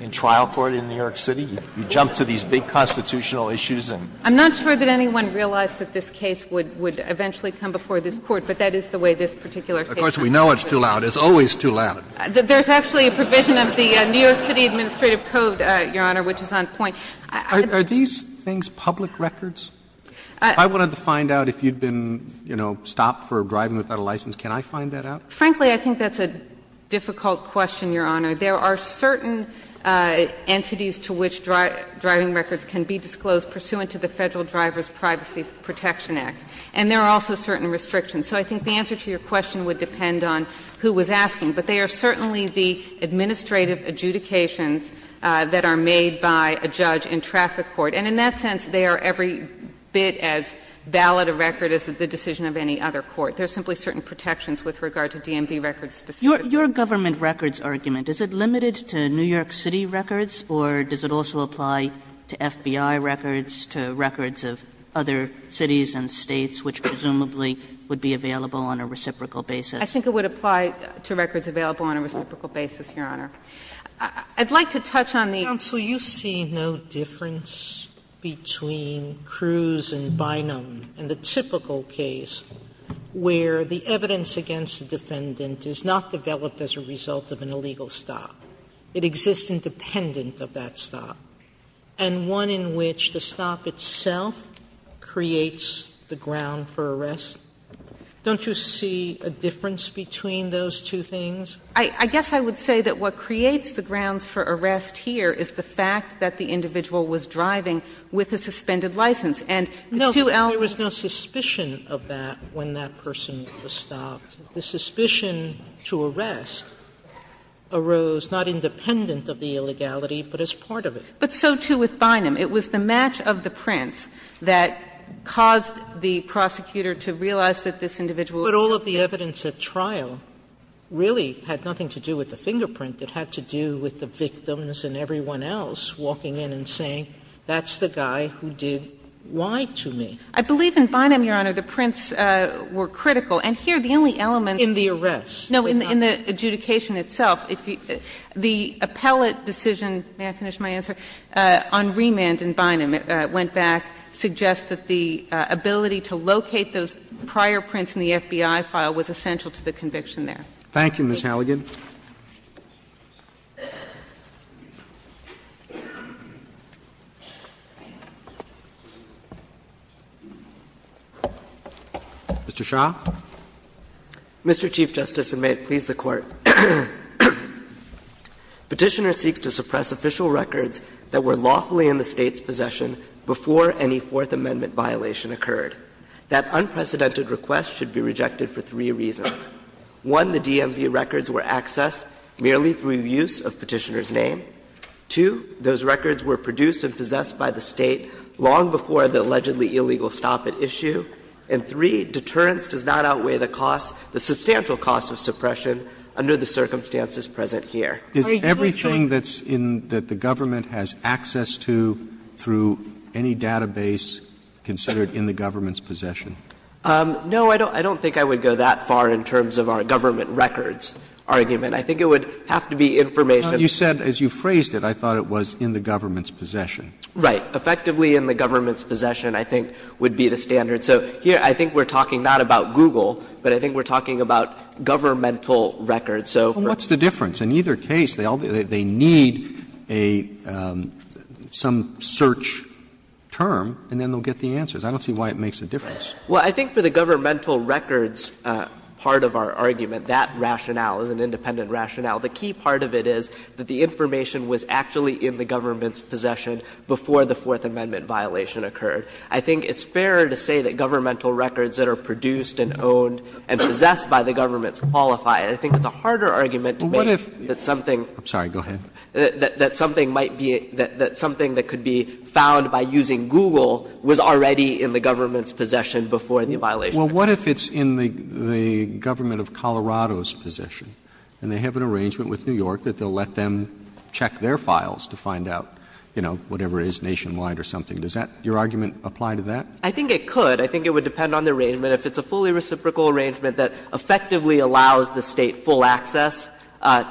in trial court in New York City. You jump to these big constitutional issues and. I'm not sure that anyone realized that this case would eventually come before this Court, but that is the way this particular case is. Of course, we know it's too loud. It's always too loud. There's actually a provision of the New York City Administrative Code, Your Honor, which is on point. Are these things public records? If I wanted to find out if you'd been, you know, stopped for driving without a license, can I find that out? Frankly, I think that's a difficult question, Your Honor. There are certain entities to which driving records can be disclosed pursuant to the Federal Drivers' Privacy Protection Act. And there are also certain restrictions. So I think the answer to your question would depend on who was asking. But they are certainly the administrative adjudications that are made by a judge in traffic court. And in that sense, they are every bit as valid a record as the decision of any other court. There are simply certain protections with regard to DMV records specifically. Kagan, your government records argument, is it limited to New York City records or does it also apply to FBI records, to records of other cities and states which presumably would be available on a reciprocal basis? I think it would apply to records available on a reciprocal basis, Your Honor. I'd like to touch on the other issues. Sotomayor, do you see no difference between Cruz and Bynum in the typical case where the evidence against the defendant is not developed as a result of an illegal stop? It exists independent of that stop. And one in which the stop itself creates the ground for arrest. Don't you see a difference between those two things? I guess I would say that what creates the grounds for arrest here is the fact that the individual was driving with a suspended license. And the two elements of that are the fact that the individual was driving with a suspended license. Sotomayor, there was no suspicion of that when that person was stopped. The suspicion to arrest arose not independent of the illegality, but as part of it. But so, too, with Bynum. It was the match of the prints that caused the prosecutor to realize that this individual was driving. But all of the evidence at trial really had nothing to do with the fingerprint. It had to do with the victims and everyone else walking in and saying, that's the guy who did what to me. I believe in Bynum, Your Honor, the prints were critical. And here the only element in the arrest. No, in the adjudication itself. The appellate decision, may I finish my answer, on remand in Bynum, it went back, suggests that the ability to locate those prior prints in the FBI file was essential to the conviction there. Thank you, Ms. Halligan. Mr. Shah. Mr. Chief Justice, and may it please the Court. Petitioner seeks to suppress official records that were lawfully in the State's possession before any Fourth Amendment violation occurred. That unprecedented request should be rejected for three reasons. One, the DMV records were accessed merely through use of Petitioner's name. Two, those records were produced and possessed by the State long before the allegedly illegal stop at issue. And three, deterrence does not outweigh the cost, the substantial cost of suppression under the circumstances present here. Is everything that's in the Government has access to through any database considered in the Government's possession? No, I don't think I would go that far in terms of our Government records argument. I think it would have to be information. You said, as you phrased it, I thought it was in the Government's possession. Right. Effectively in the Government's possession, I think, would be the standard. So here I think we're talking not about Google, but I think we're talking about governmental records. So for us. What's the difference? In either case, they need a some search term, and then they'll get the answers. I don't see why it makes a difference. Well, I think for the governmental records part of our argument, that rationale is an independent rationale. The key part of it is that the information was actually in the Government's possession before the Fourth Amendment violation occurred. I think it's fair to say that governmental records that are produced and owned and possessed by the Government qualify. I think it's a harder argument to make that something. I'm sorry. Go ahead. That something might be that something that could be found by using Google was already in the Government's possession before the violation occurred. Well, what if it's in the Government of Colorado's possession, and they have an arrangement with New York that they'll let them check their files to find out, you know, whatever it is, Nationwide or something. Does that, your argument, apply to that? I think it could. I think it would depend on the arrangement. If it's a fully reciprocal arrangement that effectively allows the State full access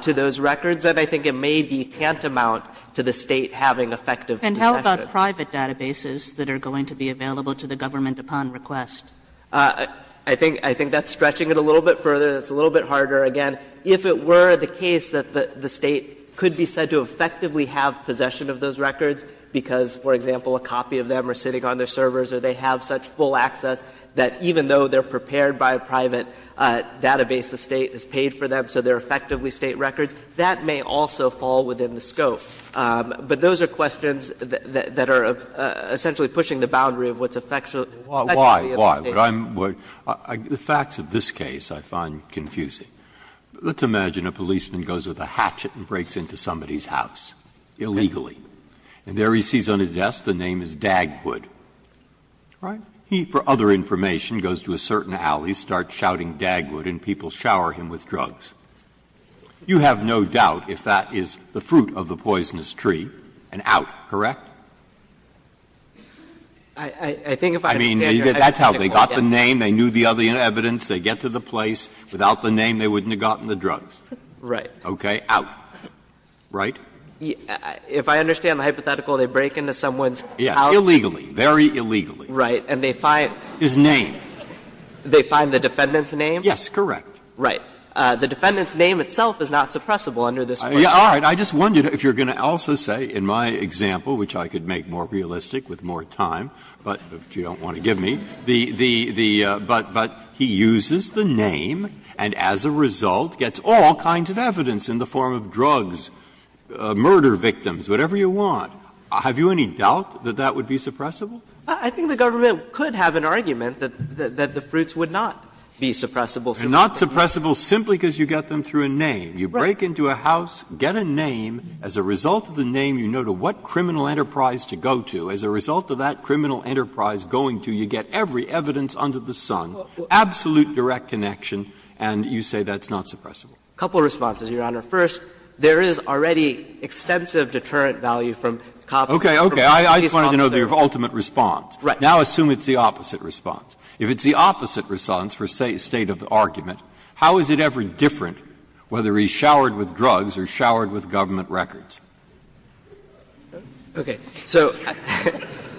to those records, then I think it may be tantamount to the State having effective possession. And how about private databases that are going to be available to the Government upon request? I think that's stretching it a little bit further. It's a little bit harder. Again, if it were the case that the State could be said to effectively have possession of those records because, for example, a copy of them are sitting on their servers or they have such full access that even though they're prepared by a private database, the State has paid for them, so they're effectively State records, that may also fall within the scope. But those are questions that are essentially pushing the boundary of what's effectually of the State. Breyer. Why? Why? The facts of this case I find confusing. Let's imagine a policeman goes with a hatchet and breaks into somebody's house illegally, and there he sees on his desk the name is Dagwood. All right? He, for other information, goes to a certain alley, starts shouting Dagwood, and people shower him with drugs. You have no doubt if that is the fruit of the poisonous tree, an out, correct? I mean, that's how they got the name. They knew the other evidence. They get to the place. Without the name, they wouldn't have gotten the drugs. Right. Okay. Out. Right? If I understand the hypothetical, they break into someone's house. Yeah. Very illegally. Right. And they find. His name. They find the defendant's name? Yes, correct. Right. The defendant's name itself is not suppressible under this question. All right. I just wondered if you're going to also say in my example, which I could make more realistic with more time, but you don't want to give me, the, the, the, but, but he uses the name, and as a result gets all kinds of evidence in the form of drugs, murder victims, whatever you want. Have you any doubt that that would be suppressible? I think the government could have an argument that, that the fruits would not be suppressible. They're not suppressible simply because you get them through a name. You break into a house, get a name. As a result of the name, you know to what criminal enterprise to go to. As a result of that criminal enterprise going to, you get every evidence under the sun, absolute direct connection, and you say that's not suppressible. A couple of responses, Your Honor. First, there is already extensive deterrent value from coppers. Okay. I just wanted to know the ultimate response. Now assume it's the opposite response. If it's the opposite response for, say, a state of argument, how is it ever different whether he's showered with drugs or showered with government records? Okay. So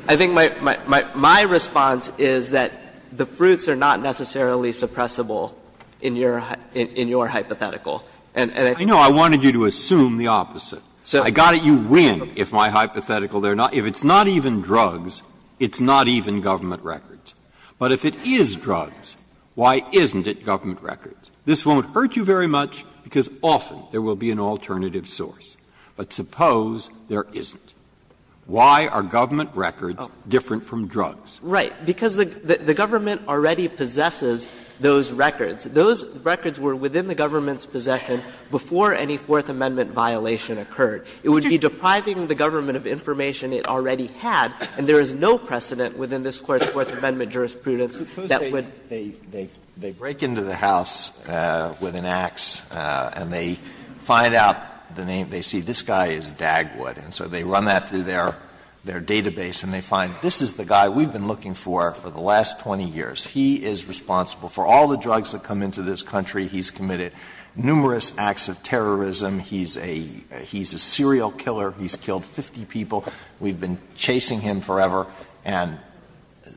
I think my, my, my response is that the fruits are not necessarily suppressible And I think that's what I'm trying to get at. I know. I wanted you to assume the opposite. I got it. You win if my hypothetical there not – if it's not even drugs, it's not even government records. But if it is drugs, why isn't it government records? This won't hurt you very much, because often there will be an alternative source. But suppose there isn't. Why are government records different from drugs? Right. Because the government already possesses those records. Those records were within the government's possession before any Fourth Amendment violation occurred. It would be depriving the government of information it already had, and there is no precedent within this Court's Fourth Amendment jurisprudence that would – They break into the house with an axe, and they find out the name. They see this guy is Dagwood, and so they run that through their database, and they find this is the guy we've been looking for for the last 20 years. He is responsible for all the drugs that come into this country. He's committed numerous acts of terrorism. He's a serial killer. He's killed 50 people. We've been chasing him forever. And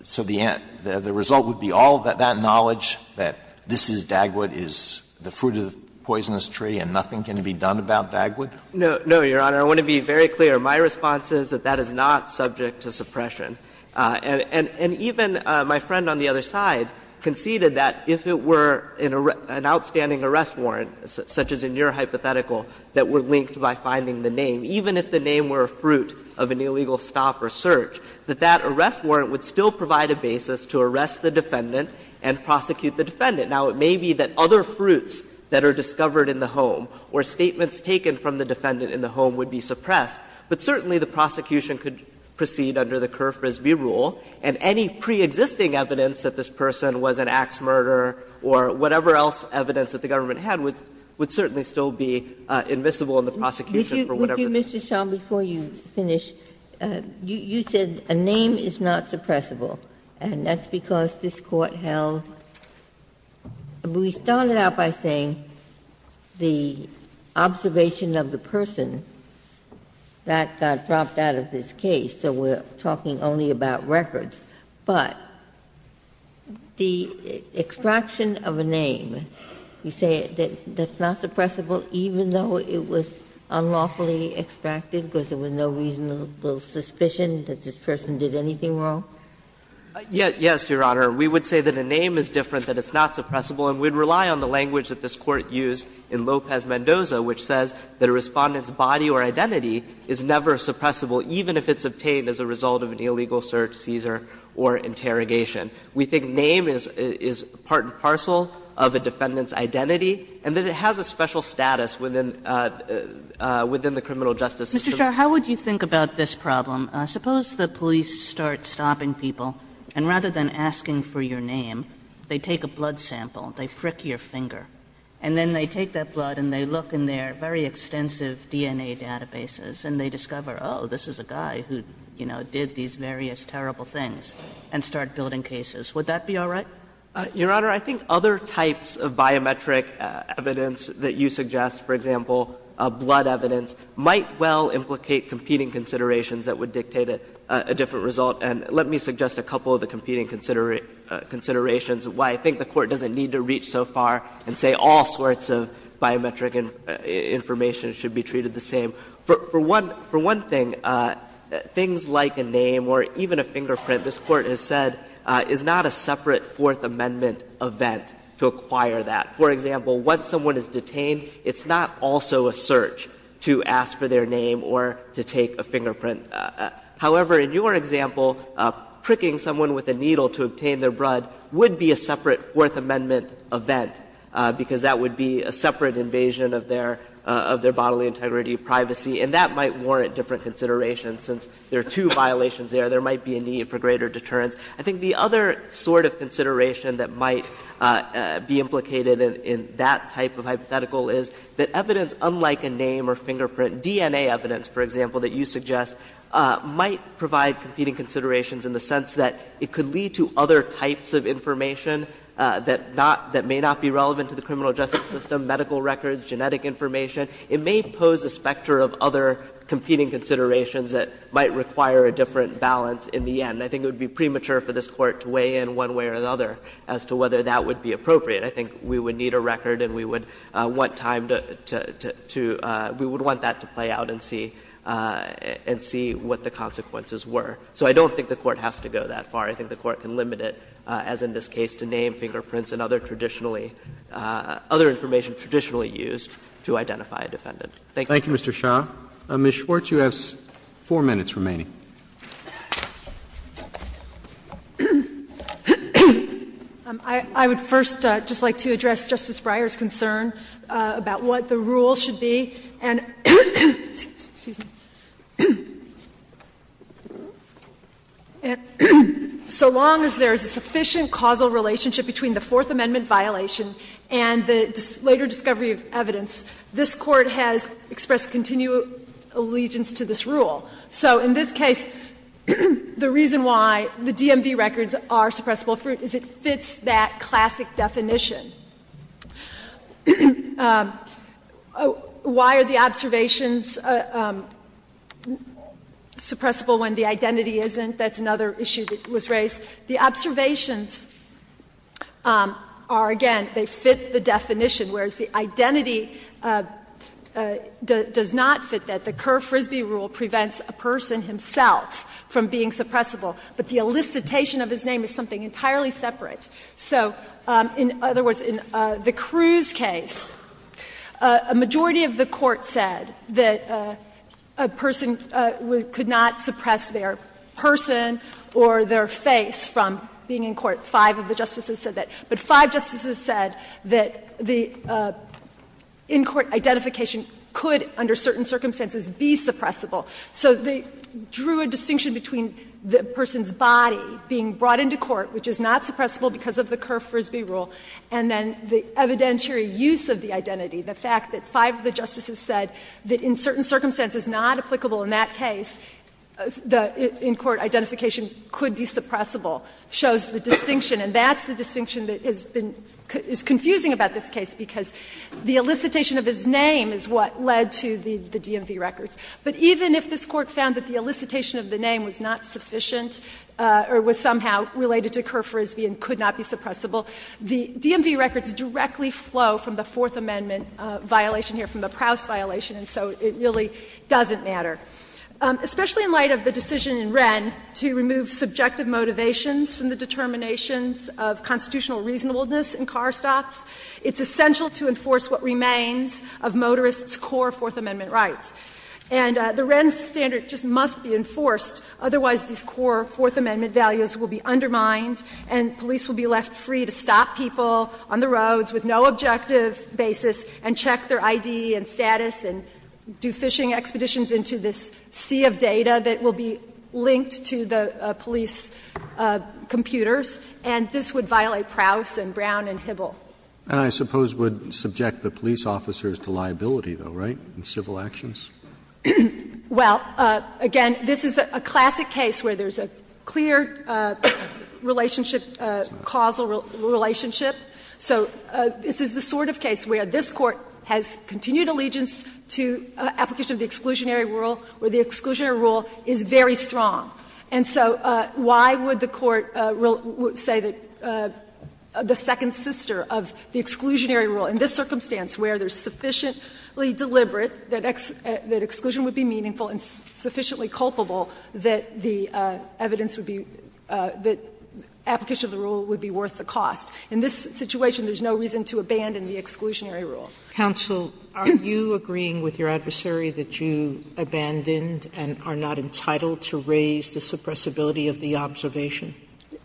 so the result would be all that knowledge that this is Dagwood, is the fruit of the poisonous tree, and nothing can be done about Dagwood? No, Your Honor. I want to be very clear. My response is that that is not subject to suppression. And even my friend on the other side conceded that if it were an outstanding arrest warrant, such as in your hypothetical, that were linked by finding the name, even if the name were a fruit of an illegal stop or search, that that arrest warrant would still provide a basis to arrest the defendant and prosecute the defendant. Now, it may be that other fruits that are discovered in the home or statements taken from the defendant in the home would be suppressed, but certainly the prosecution could proceed under the Kerr-Frisbee rule, and any preexisting evidence that this Government had would certainly still be invisible in the prosecution for whatever it is. Ginsburg. Would you, Mr. Shah, before you finish, you said a name is not suppressible, and that's because this Court held we started out by saying the observation of the person that got dropped out of this case, so we're talking only about records. But the extraction of a name, you say that that's not suppressible even though it was unlawfully extracted because there was no reasonable suspicion that this person did anything wrong? Shah, yes, Your Honor. We would say that a name is different, that it's not suppressible, and we'd rely on the language that this Court used in Lopez-Mendoza, which says that a Respondent's body or identity is never suppressible, even if it's obtained as a result of an illegal search, seizure, or interrogation. We think name is part and parcel of a Defendant's identity, and that it has a special status within the criminal justice system. Mr. Shah, how would you think about this problem? Suppose the police start stopping people, and rather than asking for your name, they take a blood sample, they frick your finger, and then they take that blood and they look in their very extensive DNA databases and they discover, oh, this is a guy who, you know, did these various terrible things, and start building cases. Would that be all right? Shah, Your Honor, I think other types of biometric evidence that you suggest, for example, blood evidence, might well implicate competing considerations that would dictate a different result. And let me suggest a couple of the competing considerations, why I think the Court doesn't need to reach so far and say all sorts of biometric information should be treated the same. For one thing, things like a name or even a fingerprint, this Court has said, is not a separate Fourth Amendment event to acquire that. For example, once someone is detained, it's not also a search to ask for their name or to take a fingerprint. However, in your example, pricking someone with a needle to obtain their blood would be a separate Fourth Amendment event, because that would be a separate invasion of their bodily integrity, privacy, and that might warrant different considerations, since there are two violations there. There might be a need for greater deterrence. I think the other sort of consideration that might be implicated in that type of hypothetical is that evidence unlike a name or fingerprint, DNA evidence, for example, that you suggest, might provide competing considerations in the sense that it could lead to other types of information that may not be relevant to the criminal justice system, medical records, genetic information. It may pose a specter of other competing considerations that might require a different balance in the end. I think it would be premature for this Court to weigh in one way or another as to whether that would be appropriate. I think we would need a record and we would want time to — we would want that to play out and see what the consequences were. So I don't think the Court has to go that far. I think the Court can limit it, as in this case, to name, fingerprints, and other traditionally — other information traditionally used to identify a defendant. Thank you. Roberts. Roberts. Roberts. Ms. Schwartz, you have four minutes remaining. Schwartz. Schwartz. I would first just like to address Justice Breyer's concern about what the rule should be. And so long as there is a sufficient causal relationship between the Fourth Amendment violation and the later discovery of evidence, this Court has expressed continued allegiance to this rule. So in this case, the reason why the DMV records are suppressible fruit is it fits that classic definition. Why are the observations suppressible when the identity isn't? That's another issue that was raised. The observations are, again, they fit the definition, whereas the identity does not fit that. The Kerr-Frisbee rule prevents a person himself from being suppressible, but the elicitation of his name is something entirely separate. So in other words, in the Cruz case, a majority of the Court said that a person could not suppress their person or their face from being in court. Five of the justices said that. But five justices said that the in-court identification could, under certain circumstances, be suppressible. So they drew a distinction between the person's body being brought into court, which is not suppressible because of the Kerr-Frisbee rule, and then the evidentiary use of the identity, the fact that five of the justices said that in certain circumstances it was not applicable in that case, the in-court identification could be suppressible, shows the distinction. And that's the distinction that has been confusing about this case, because the elicitation of his name is what led to the DMV records. But even if this Court found that the elicitation of the name was not sufficient or was somehow related to Kerr-Frisbee and could not be suppressible, the DMV records directly flow from the Fourth Amendment violation here, from the Prowse violation, and so it really doesn't matter. Especially in light of the decision in Wren to remove subjective motivations from the determinations of constitutional reasonableness in car stops, it's essential to enforce what remains of motorists' core Fourth Amendment rights. And the Wren standard just must be enforced, otherwise these core Fourth Amendment values will be undermined and police will be left free to stop people on the roads with no objective basis and check their I.D. and status and do fishing expeditions into this sea of data that will be linked to the police computers, and this would violate Prowse and Brown and Hibble. And I suppose would subject the police officers to liability, though, right, in civil actions? Well, again, this is a classic case where there's a clear relationship, causal relationship. So this is the sort of case where this Court has continued allegiance to application of the exclusionary rule, where the exclusionary rule is very strong. And so why would the Court say that the second sister of the exclusionary rule in this circumstance, where there's sufficiently deliberate that exclusion would be meaningful and sufficiently culpable, that the evidence would be, that application of the rule would be worth the cost? In this situation, there's no reason to abandon the exclusionary rule. Sotomayor, are you agreeing with your adversary that you abandoned and are not entitled to raise the suppressibility of the observation?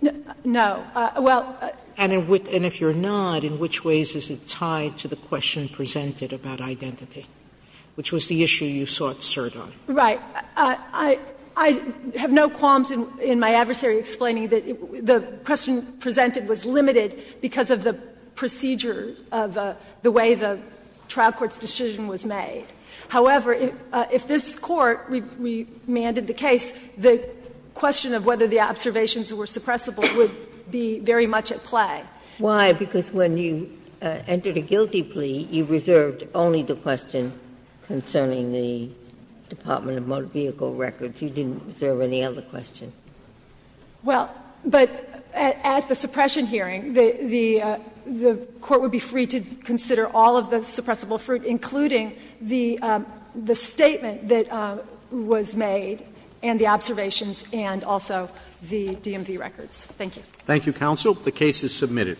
Well, I don't think so. And if you're not, in which ways is it tied to the question presented about identity, which was the issue you sought cert on? Right. I have no qualms in my adversary explaining that the question presented was limited because of the procedure of the way the trial court's decision was made. However, if this Court remanded the case, the question of whether the observations were suppressible would be very much at play. Why? Because when you entered a guilty plea, you reserved only the question concerning the Department of Motor Vehicle Records. You didn't reserve any other question. Well, but at the suppression hearing, the Court would be free to consider all of the suppressible fruit, including the statement that was made and the observations and also the DMV records. Thank you. Thank you, counsel. The case is submitted.